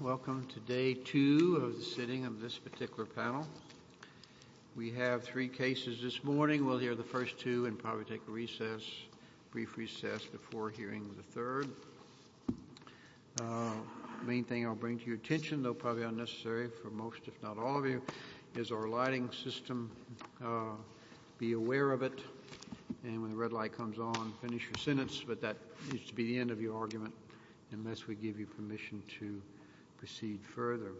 Welcome to day two of the sitting of this particular panel. We have three cases this morning. We'll hear the first two and probably take a recess, brief recess before hearing the third. The main thing I'll bring to your attention, though probably unnecessary for most if not all of you, is our lighting system. Be aware of it and when the red light comes on, finish your sentence. But that needs to be the end of your argument unless we give you permission to proceed further.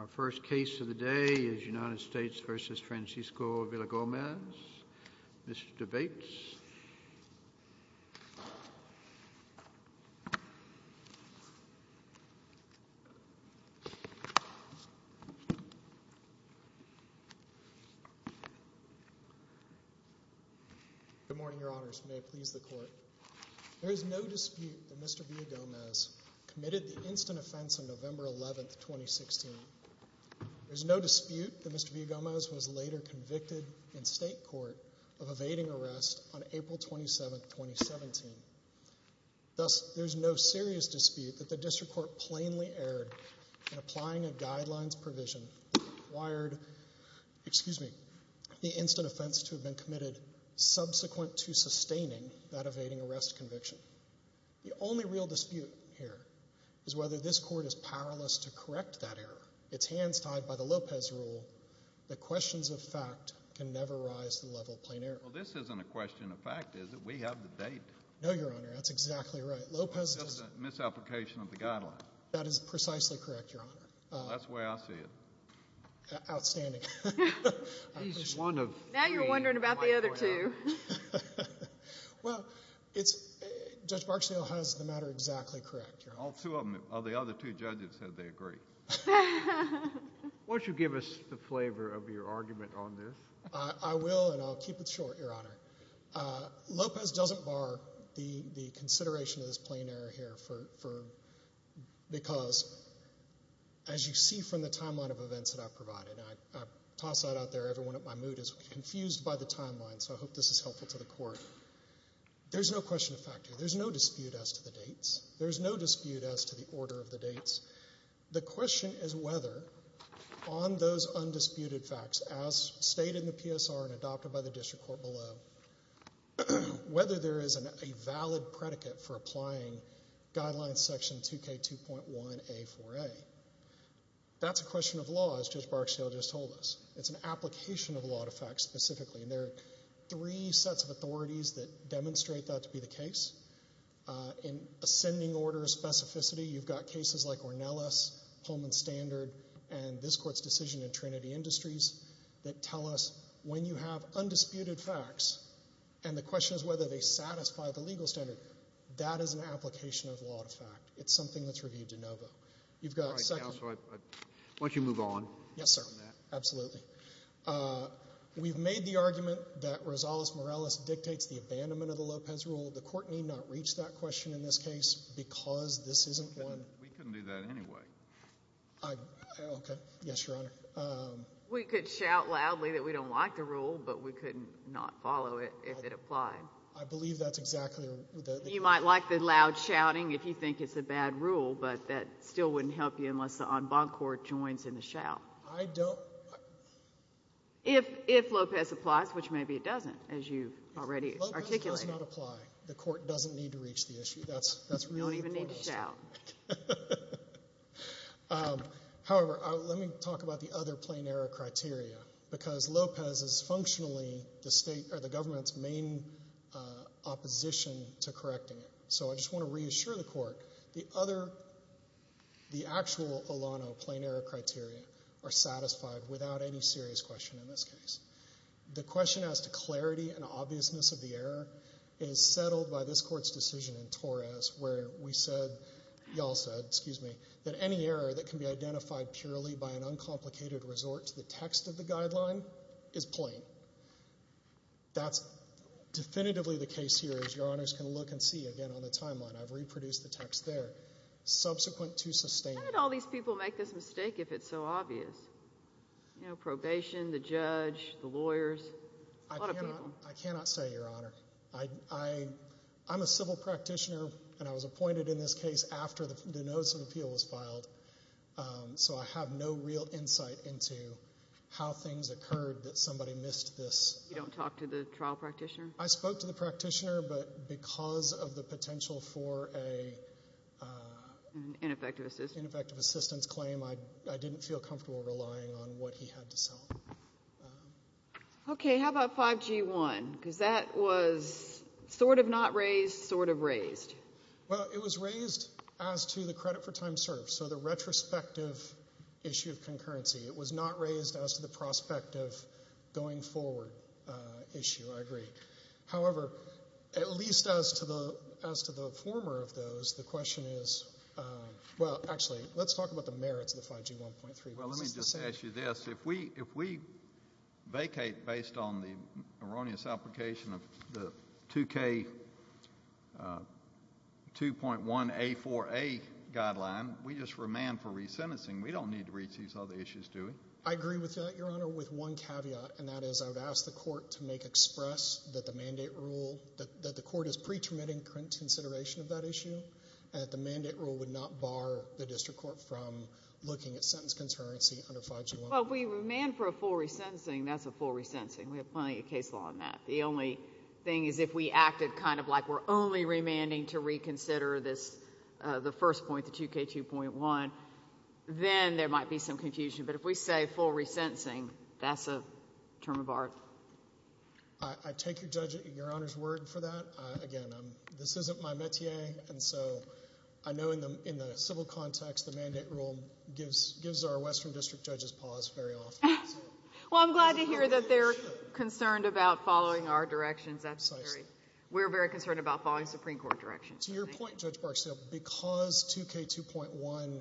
Our first case of the day is United States v. Francisco Villagomez. Mr. Bates. Good morning, your honors. May it please the court. There is no dispute that Mr. Villagomez committed the instant offense on November 11th, 2016. There's no dispute that Mr. Villagomez was later convicted in state court of evading arrest on April 27th, 2017. Thus, there's no serious dispute that the district court plainly erred in applying a guidelines provision that required, excuse me, the instant offense to have been committed subsequent to sustaining that evading arrest conviction. The only real dispute here is whether this court is powerless to correct that error. It's hands tied by the Lopez rule that questions of fact can never rise to the level of plain error. Well, this isn't a question of fact, is it? We have the date. No, your honor. That's exactly right. Lopez does not. Misapplication of the guidelines. That is precisely correct, your honor. That's the way I see it. Outstanding. He's one of three. I'm wondering about the other two. Well, Judge Barksdale has the matter exactly correct, your honor. All two of them. All the other two judges said they agree. Won't you give us the flavor of your argument on this? I will, and I'll keep it short, your honor. Lopez doesn't bar the consideration of this plain error here for, because as you see from the timeline of events that I've provided, and I toss that out there, everyone in my mood is confused by the timeline, so I hope this is helpful to the court. There's no question of fact here. There's no dispute as to the dates. There's no dispute as to the order of the dates. The question is whether on those undisputed facts as stated in the PSR and adopted by the district court below, whether there is a valid predicate for applying guideline section 2K2.1A4A. That's a question of law, as Judge Barksdale just told us. It's an application of law to fact specifically, and there are three sets of authorities that demonstrate that to be the case. In ascending order specificity, you've got cases like Ornelas, Pullman Standard, and this court's decision in Trinity Industries that tell us when you have undisputed facts, and the question is whether they satisfy the legal standard, that is an application of law to fact. It's something that's reviewed de novo. You've got a second? Why don't you move on? Yes, sir. Absolutely. We've made the argument that Rosales-Morales dictates the abandonment of the Lopez rule. The court need not reach that question in this case because this isn't one. We couldn't do that anyway. Okay. Yes, Your Honor. We could shout loudly that we don't like the rule, but we could not follow it if it applied. I believe that's exactly the case. You might like the loud shouting if you think it's a bad rule, but that still wouldn't help you unless the en banc court joins in the shout. I don't. If Lopez applies, which maybe it doesn't, as you've already articulated. Lopez does not apply. The court doesn't need to reach the issue. That's really the point. You don't even need to shout. However, let me talk about the other plenary criteria because Lopez is functionally the state, So I just want to reassure the court. The other, the actual Olano plenary criteria are satisfied without any serious question in this case. The question as to clarity and obviousness of the error is settled by this court's decision in Torres where we said, you all said, excuse me, that any error that can be identified purely by an uncomplicated resort to the text of the guideline is plain. That's definitively the case here as Your Honors can look and see again on the timeline. I've reproduced the text there. Subsequent to sustain. How did all these people make this mistake if it's so obvious? Probation, the judge, the lawyers, a lot of people. I cannot say, Your Honor. I'm a civil practitioner and I was appointed in this case after the notice of appeal was filed. So I have no real insight into how things occurred that somebody missed this. You don't talk to the trial practitioner? I spoke to the practitioner, but because of the potential for a. Ineffective assistance. Ineffective assistance claim, I didn't feel comfortable relying on what he had to sell. Okay, how about 5G-1? Because that was sort of not raised, sort of raised. Well, it was raised as to the credit for time served. So the retrospective issue of concurrency. It was not raised as to the prospect of going forward issue, I agree. However, at least as to the former of those, the question is, well, actually, let's talk about the merits of the 5G-1.3. Well, let me just ask you this. If we vacate based on the erroneous application of the 2K2.1A4A guideline, we just remand for resentencing. We don't need to retake all the issues, do we? I agree with that, Your Honor, with one caveat. And that is, I've asked the court to make express that the mandate rule, that the court is pre-terminating current consideration of that issue, that the mandate rule would not bar the district court from looking at sentence concurrency under 5G-1. Well, we remand for a full resentencing, that's a full resentencing. We have plenty of case law on that. The only thing is, if we acted kind of like we're only remanding to reconsider the first point, the 2K2.1, then there might be some confusion. But if we say full resentencing, that's a term of art. I take Your Honor's word for that. Again, this isn't my metier, and so I know in the civil context, the mandate rule gives our Western District judges pause very often. Well, I'm glad to hear that they're concerned about following our directions. We're very concerned about following Supreme Court directions. To your point, Judge Barksdale, because 2K2.1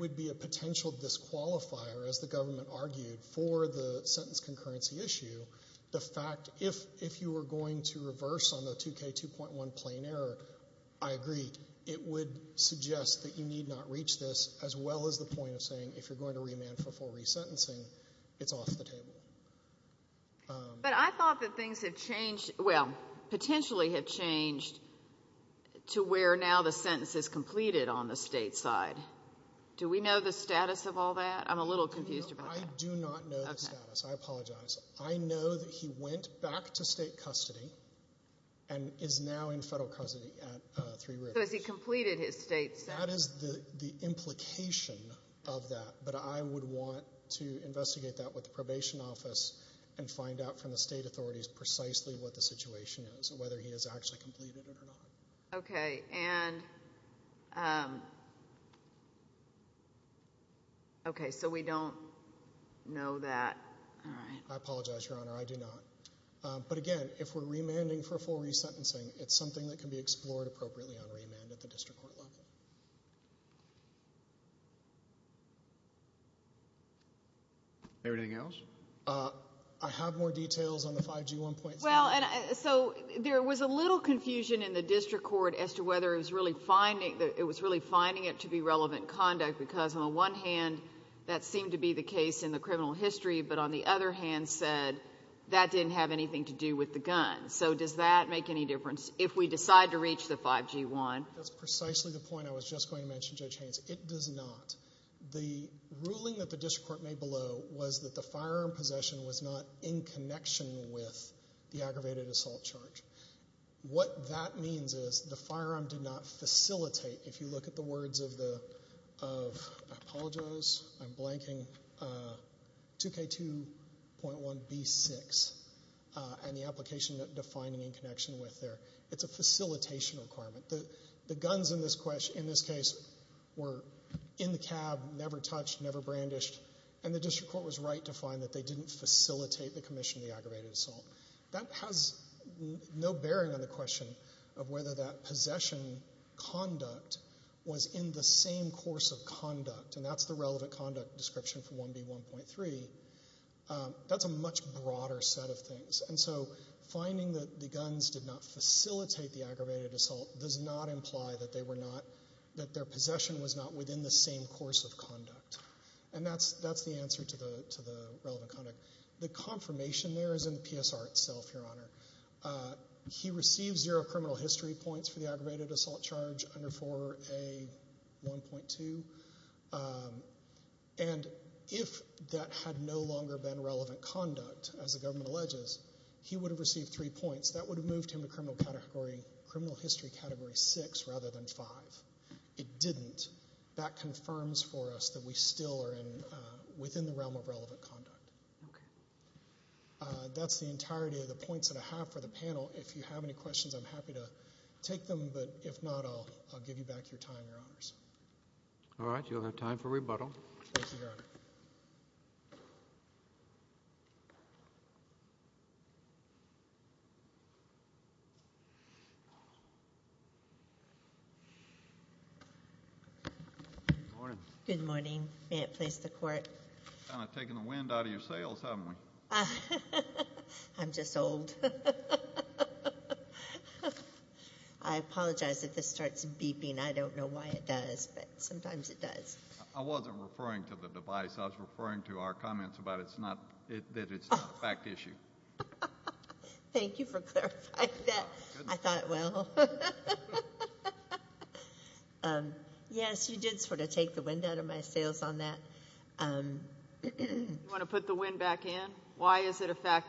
would be a potential disqualifier, as the government argued, for the sentence concurrency issue, the fact, if you were going to reverse on the 2K2.1 plain error, I agree, it would suggest that you need not reach this, as well as the point of saying, if you're going to remand for full resentencing, it's off the table. But I thought that things have changed, well, potentially have changed, to where now the sentence is completed on the state side. Do we know the status of all that? I'm a little confused about that. No, I do not know the status. I apologize. I know that he went back to state custody and is now in federal custody at Three Rivers. So has he completed his state sentence? That is the implication of that, but I would want to investigate that with the probation office and find out from the state authorities precisely what the situation is and whether he has actually completed it or not. Okay. So we don't know that. I apologize, Your Honor. I do not. But again, if we're remanding for full resentencing, it's something that can be explored appropriately on remand at the district court level. Thank you. Anything else? I have more details on the 5G1.7. Well, so there was a little confusion in the district court as to whether it was really finding it to be relevant conduct, because on the one hand, that seemed to be the case in the criminal history, but on the other hand said that didn't have anything to do with the gun. So does that make any difference if we decide to reach the 5G1? That's precisely the point I was just going to mention, Judge Haynes. It does not. The ruling that the district court made below was that the firearm possession was not in connection with the aggravated assault charge. What that means is the firearm did not facilitate. If you look at the words of the 2K2.1B6 and the application defining in connection with there, it's a facilitation requirement. The guns in this case were in the cab, never touched, never brandished, and the district court was right to find that they didn't facilitate the commission of the aggravated assault. That has no bearing on the question of whether that possession conduct was in the same course of conduct, and that's the relevant conduct description for 1B1.3. That's a much broader set of things. And so finding that the guns did not facilitate the aggravated assault does not imply that their possession was not within the same course of conduct, and that's the answer to the relevant conduct. The confirmation there is in the PSR itself, Your Honor. He receives zero criminal history points for the aggravated assault charge under 4A1.2, and if that had no longer been relevant conduct, as the government alleges, he would have received three points. That would have moved him to criminal history Category 6 rather than 5. It didn't. That confirms for us that we still are within the realm of relevant conduct. That's the entirety of the points that I have for the panel. If you have any questions, I'm happy to take them, but if not, I'll give you back your time, Your Honors. All right. You'll have time for rebuttal. Yes, Your Honor. Good morning. Good morning. May it please the Court. Kind of taking the wind out of your sails, haven't we? I'm just old. I apologize if this starts beeping. I don't know why it does, but sometimes it does. I wasn't referring to the device. I was referring to our comments that it's not a fact issue. Thank you for clarifying that. I thought, well. Yes, you did sort of take the wind out of my sails on that. Do you want to put the wind back in? Why is it a fact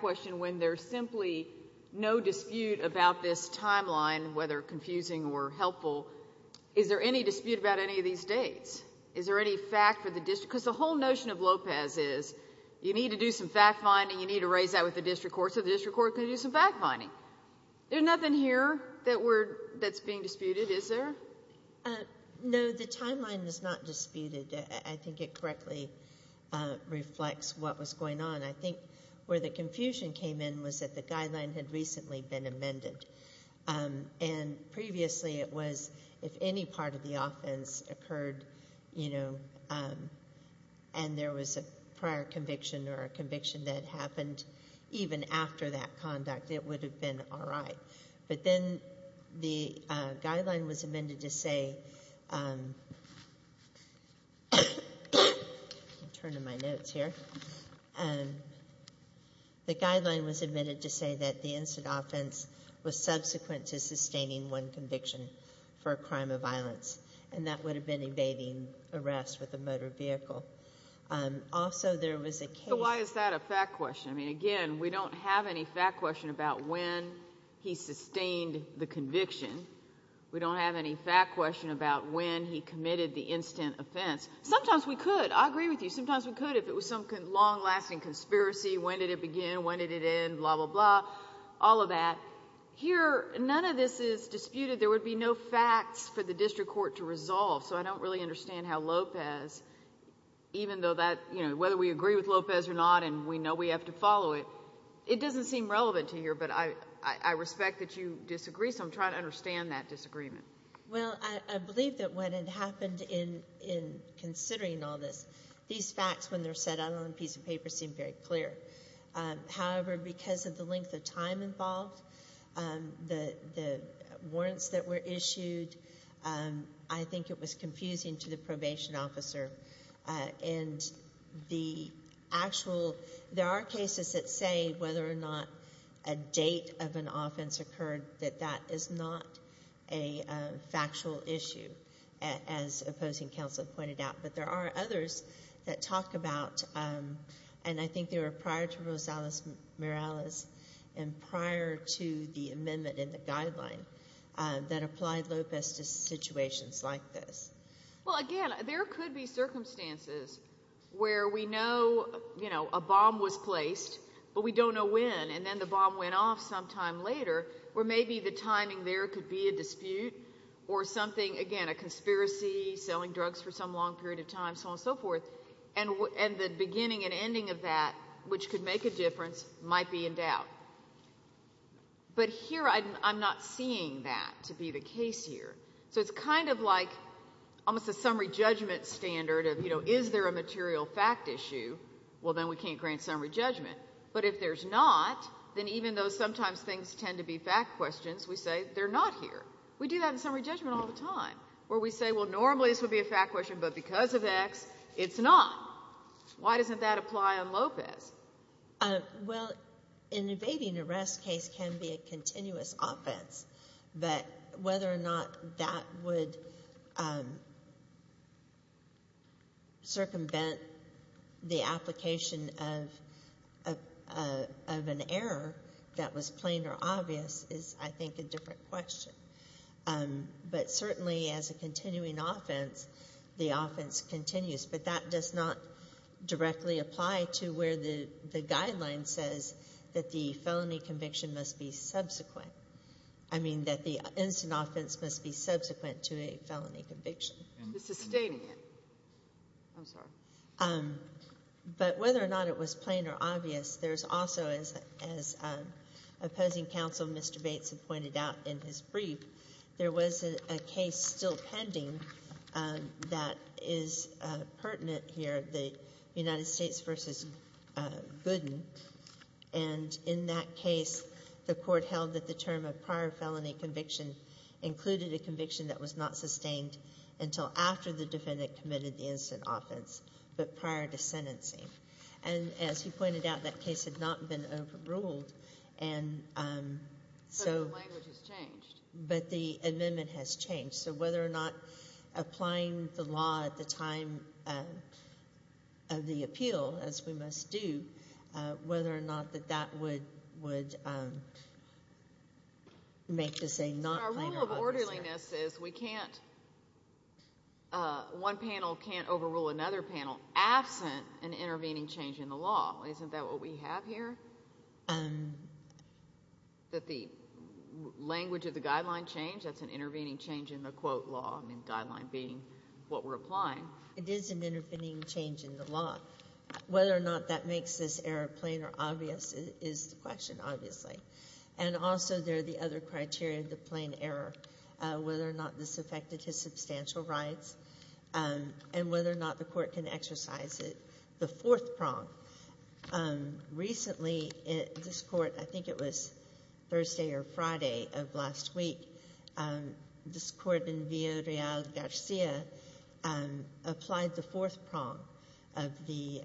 question when there's simply no dispute about this timeline, whether confusing or helpful? Is there any dispute about any of these dates? Is there any fact for the district? Because the whole notion of Lopez is you need to do some fact finding, you need to raise that with the district court, so the district court can do some fact finding. There's nothing here that's being disputed, is there? No, the timeline is not disputed. I think it correctly reflects what was going on. I think where the confusion came in was that the guideline had recently been amended. Previously it was if any part of the offense occurred and there was a prior conviction or a conviction that happened, even after that conduct, it would have been all right. But then the guideline was amended to say, let me turn in my notes here, the guideline was amended to say that the instant offense was subsequent to sustaining one conviction for a crime of violence, and that would have been evading arrest with a motor vehicle. Also there was a case. So why is that a fact question? Again, we don't have any fact question about when he sustained the conviction. We don't have any fact question about when he committed the instant offense. Sometimes we could. I agree with you. Sometimes we could if it was some long-lasting conspiracy. When did it begin? When did it end? Blah, blah, blah. All of that. Here, none of this is disputed. There would be no facts for the district court to resolve, so I don't really understand how Lopez, even though whether we agree with Lopez or not and we know we have to follow it, it doesn't seem relevant to you, but I respect that you disagree, so I'm trying to understand that disagreement. Well, I believe that what had happened in considering all this, these facts when they're set out on a piece of paper seem very clear. However, because of the length of time involved, the warrants that were issued, I think it was confusing to the probation officer. And the actual, there are cases that say whether or not a date of an offense occurred that that is not a factual issue, as opposing counsel pointed out. But there are others that talk about, and I think they were prior to Rosales-Morales and prior to the amendment in the guideline that applied Lopez to situations like this. Well, again, there could be circumstances where we know a bomb was placed, but we don't know when, and then the bomb went off sometime later. Or maybe the timing there could be a dispute or something, again, a conspiracy, selling drugs for some long period of time, so on and so forth, and the beginning and ending of that, which could make a difference, might be in doubt. But here I'm not seeing that to be the case here. So it's kind of like almost a summary judgment standard of, you know, is there a material fact issue? Well, then we can't grant summary judgment. But if there's not, then even though sometimes things tend to be fact questions, we say they're not here. We do that in summary judgment all the time, where we say, well, normally this would be a fact question, but because of X, it's not. Why doesn't that apply on Lopez? Well, an evading arrest case can be a continuous offense, but whether or not that would circumvent the application of an error that was plain or obvious is, I think, a different question. But certainly as a continuing offense, the offense continues, but that does not directly apply to where the guideline says that the felony I mean that the instant offense must be subsequent to a felony conviction. It's sustaining it. I'm sorry. But whether or not it was plain or obvious, there's also, as opposing counsel Mr. Bates had pointed out in his brief, there was a case still pending that is pertinent here, the United States v. Gooden. And in that case, the court held that the term of prior felony conviction included a conviction that was not sustained until after the defendant committed the instant offense, but prior to sentencing. And as he pointed out, that case had not been overruled. So the language has changed. But the amendment has changed. So whether or not applying the law at the time of the appeal, as we must do, whether or not that that would make this a not plain or obvious error. Our rule of orderliness is we can't one panel can't overrule another panel absent an intervening change in the law. Isn't that what we have here, that the language of the guideline changed? That's an intervening change in the quote law, the guideline being what we're applying. It is an intervening change in the law. Whether or not that makes this error plain or obvious is the question, obviously. And also there are the other criteria, the plain error, whether or not this affected his substantial rights and whether or not the court can exercise it. The fourth prong. Recently this court, I think it was Thursday or Friday of last week, this court in Villarreal Garcia applied the fourth prong of the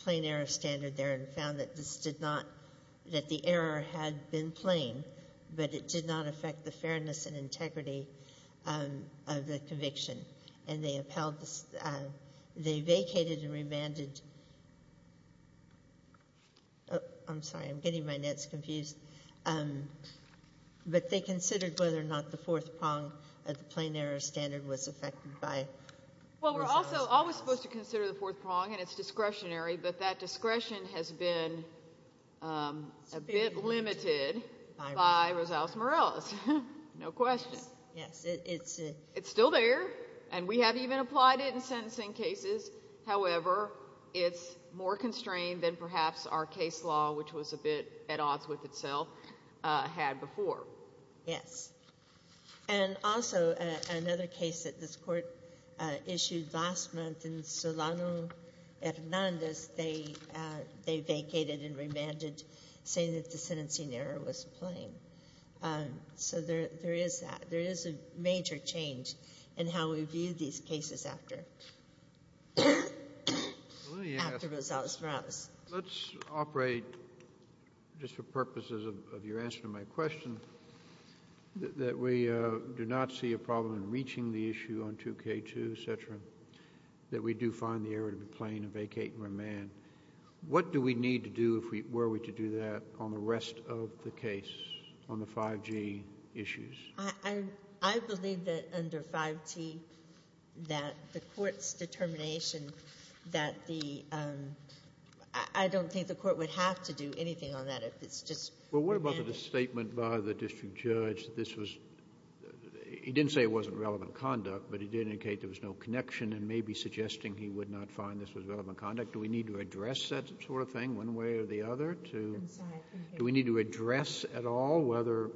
plain error standard there and found that the error had been plain, but it did not affect the fairness and integrity of the conviction. And they vacated and remanded. I'm sorry, I'm getting my nets confused. But they considered whether or not the fourth prong of the plain error standard was affected by. Well, we're also always supposed to consider the fourth prong, and it's discretionary, but that discretion has been a bit limited by Rosales-Morales. No question. It's still there, and we have even applied it in sentencing cases. However, it's more constrained than perhaps our case law, which was a bit at odds with itself, had before. Yes. And also another case that this court issued last month in Solano Hernandez, they vacated and remanded saying that the sentencing error was plain. So there is that. There is a major change in how we view these cases after Rosales-Morales. Let's operate, just for purposes of your answer to my question, that we do not see a problem in reaching the issue on 2K2, et cetera, that we do find the error to be plain and vacate and remand. What do we need to do if we were to do that on the rest of the case on the 5G issues? I believe that under 5T that the court's determination that the ‑‑ I don't think the court would have to do anything on that if it's just ‑‑ Well, what about the statement by the district judge that this was ‑‑ he didn't say it wasn't relevant conduct, but he did indicate there was no connection and maybe suggesting he would not find this was relevant conduct. Do we need to address that sort of thing one way or the other? I'm sorry. Do we need to address at all whether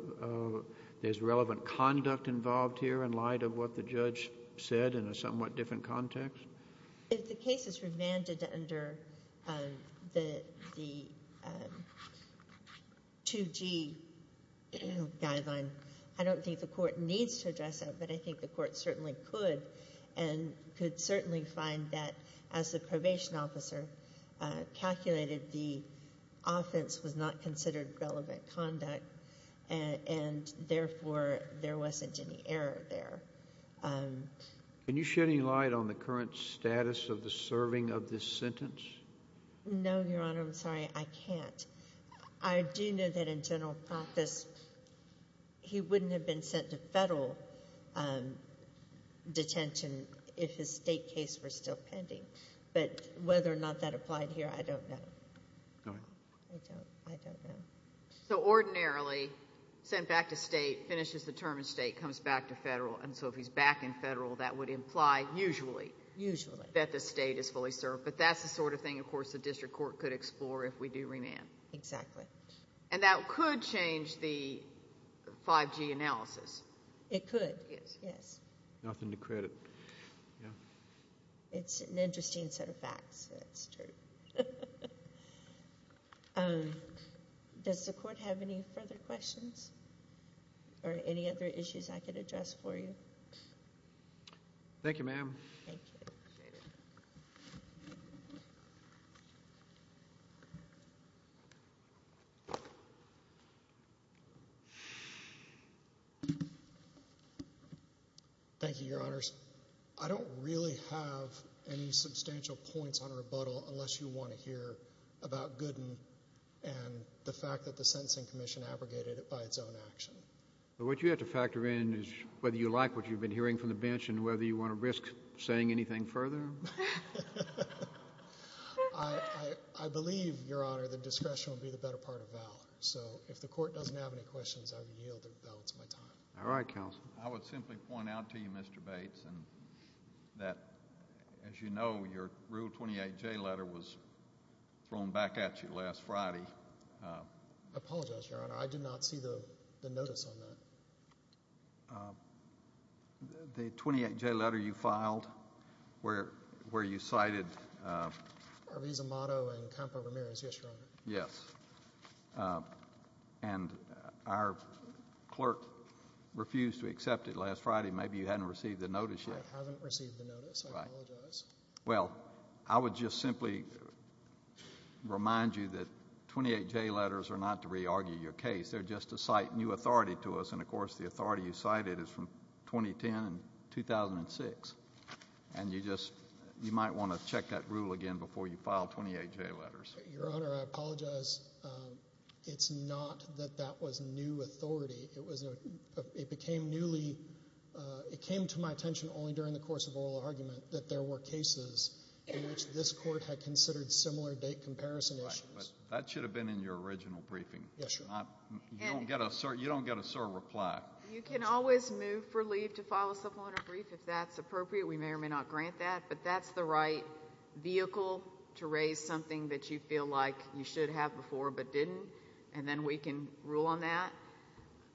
there's relevant conduct involved here in light of what the judge said in a somewhat different context? If the case is remanded under the 2G guideline, I don't think the court needs to address that, but I think the court certainly could and could certainly find that as the probation officer calculated, the offense was not considered relevant conduct and, therefore, there wasn't any error there. Can you shed any light on the current status of the serving of this sentence? No, Your Honor. I'm sorry. I can't. I do know that in general practice, he wouldn't have been sent to federal detention if his state case were still pending, but whether or not that applied here, I don't know. Go ahead. I don't know. So, ordinarily, sent back to state, finishes the term in state, comes back to federal, and so if he's back in federal, that would imply usually that the state is fully served, but that's the sort of thing, of course, the district court could explore if we do remand. Exactly. And that could change the 5G analysis. It could, yes. Nothing to credit. It's an interesting set of facts. That's true. Does the court have any further questions or any other issues I could address for you? Thank you, ma'am. Thank you. Appreciate it. Thank you, Your Honors. I don't really have any substantial points on rebuttal unless you want to hear about Gooden and the fact that the Sentencing Commission abrogated it by its own action. What you have to factor in is whether you like what you've been hearing from the bench and whether you want to risk saying anything further. I believe, Your Honor, that discretion will be the better part of the vow. So if the court doesn't have any questions, I would yield. That was my time. All right, counsel. I would simply point out to you, Mr. Bates, that as you know, your Rule 28J letter was thrown back at you last Friday. I apologize, Your Honor. I did not see the notice on that. The 28J letter you filed where you cited... Arviz Amato and Campo Ramirez. Yes, Your Honor. Yes. And our clerk refused to accept it last Friday. Maybe you hadn't received the notice yet. I haven't received the notice. I apologize. Right. Well, I would just simply remind you that 28J letters are not to re-argue your case. They're just to cite new authority to us and, of course, the authority you cited is from 2010 and 2006. And you just... you might want to check that rule again before you file 28J letters. Your Honor, I apologize. It's not that that was new authority. It became newly... It came to my attention only during the course of oral argument that there were cases in which this court had considered similar date comparison issues. Right, but that should have been in your original briefing. Yes, Your Honor. You don't get a certain reply. You can always move for leave to file a supplemental brief if that's appropriate. We may or may not grant that, but that's the right vehicle to raise something that you feel like you should have before but didn't, and then we can rule on that.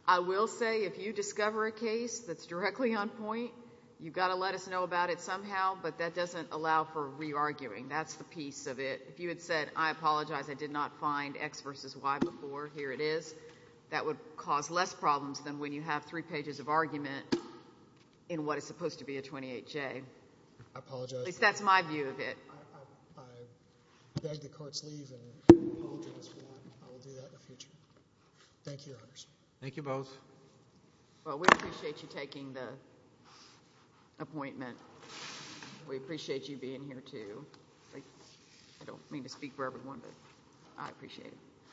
I will say if you discover a case that's directly on point, you've got to let us know about it somehow, but that doesn't allow for re-arguing. That's the piece of it. If you had said, I apologize, I did not find X versus Y before, here it is, that would cause less problems than when you have three pages of argument in what is supposed to be a 28-J. I apologize. At least that's my view of it. I beg the court's leave and apologize for that. I will do that in the future. Thank you, Your Honors. Thank you both. Well, we appreciate you taking the appointment. We appreciate you being here, too. I don't mean to speak for everyone, but I appreciate it.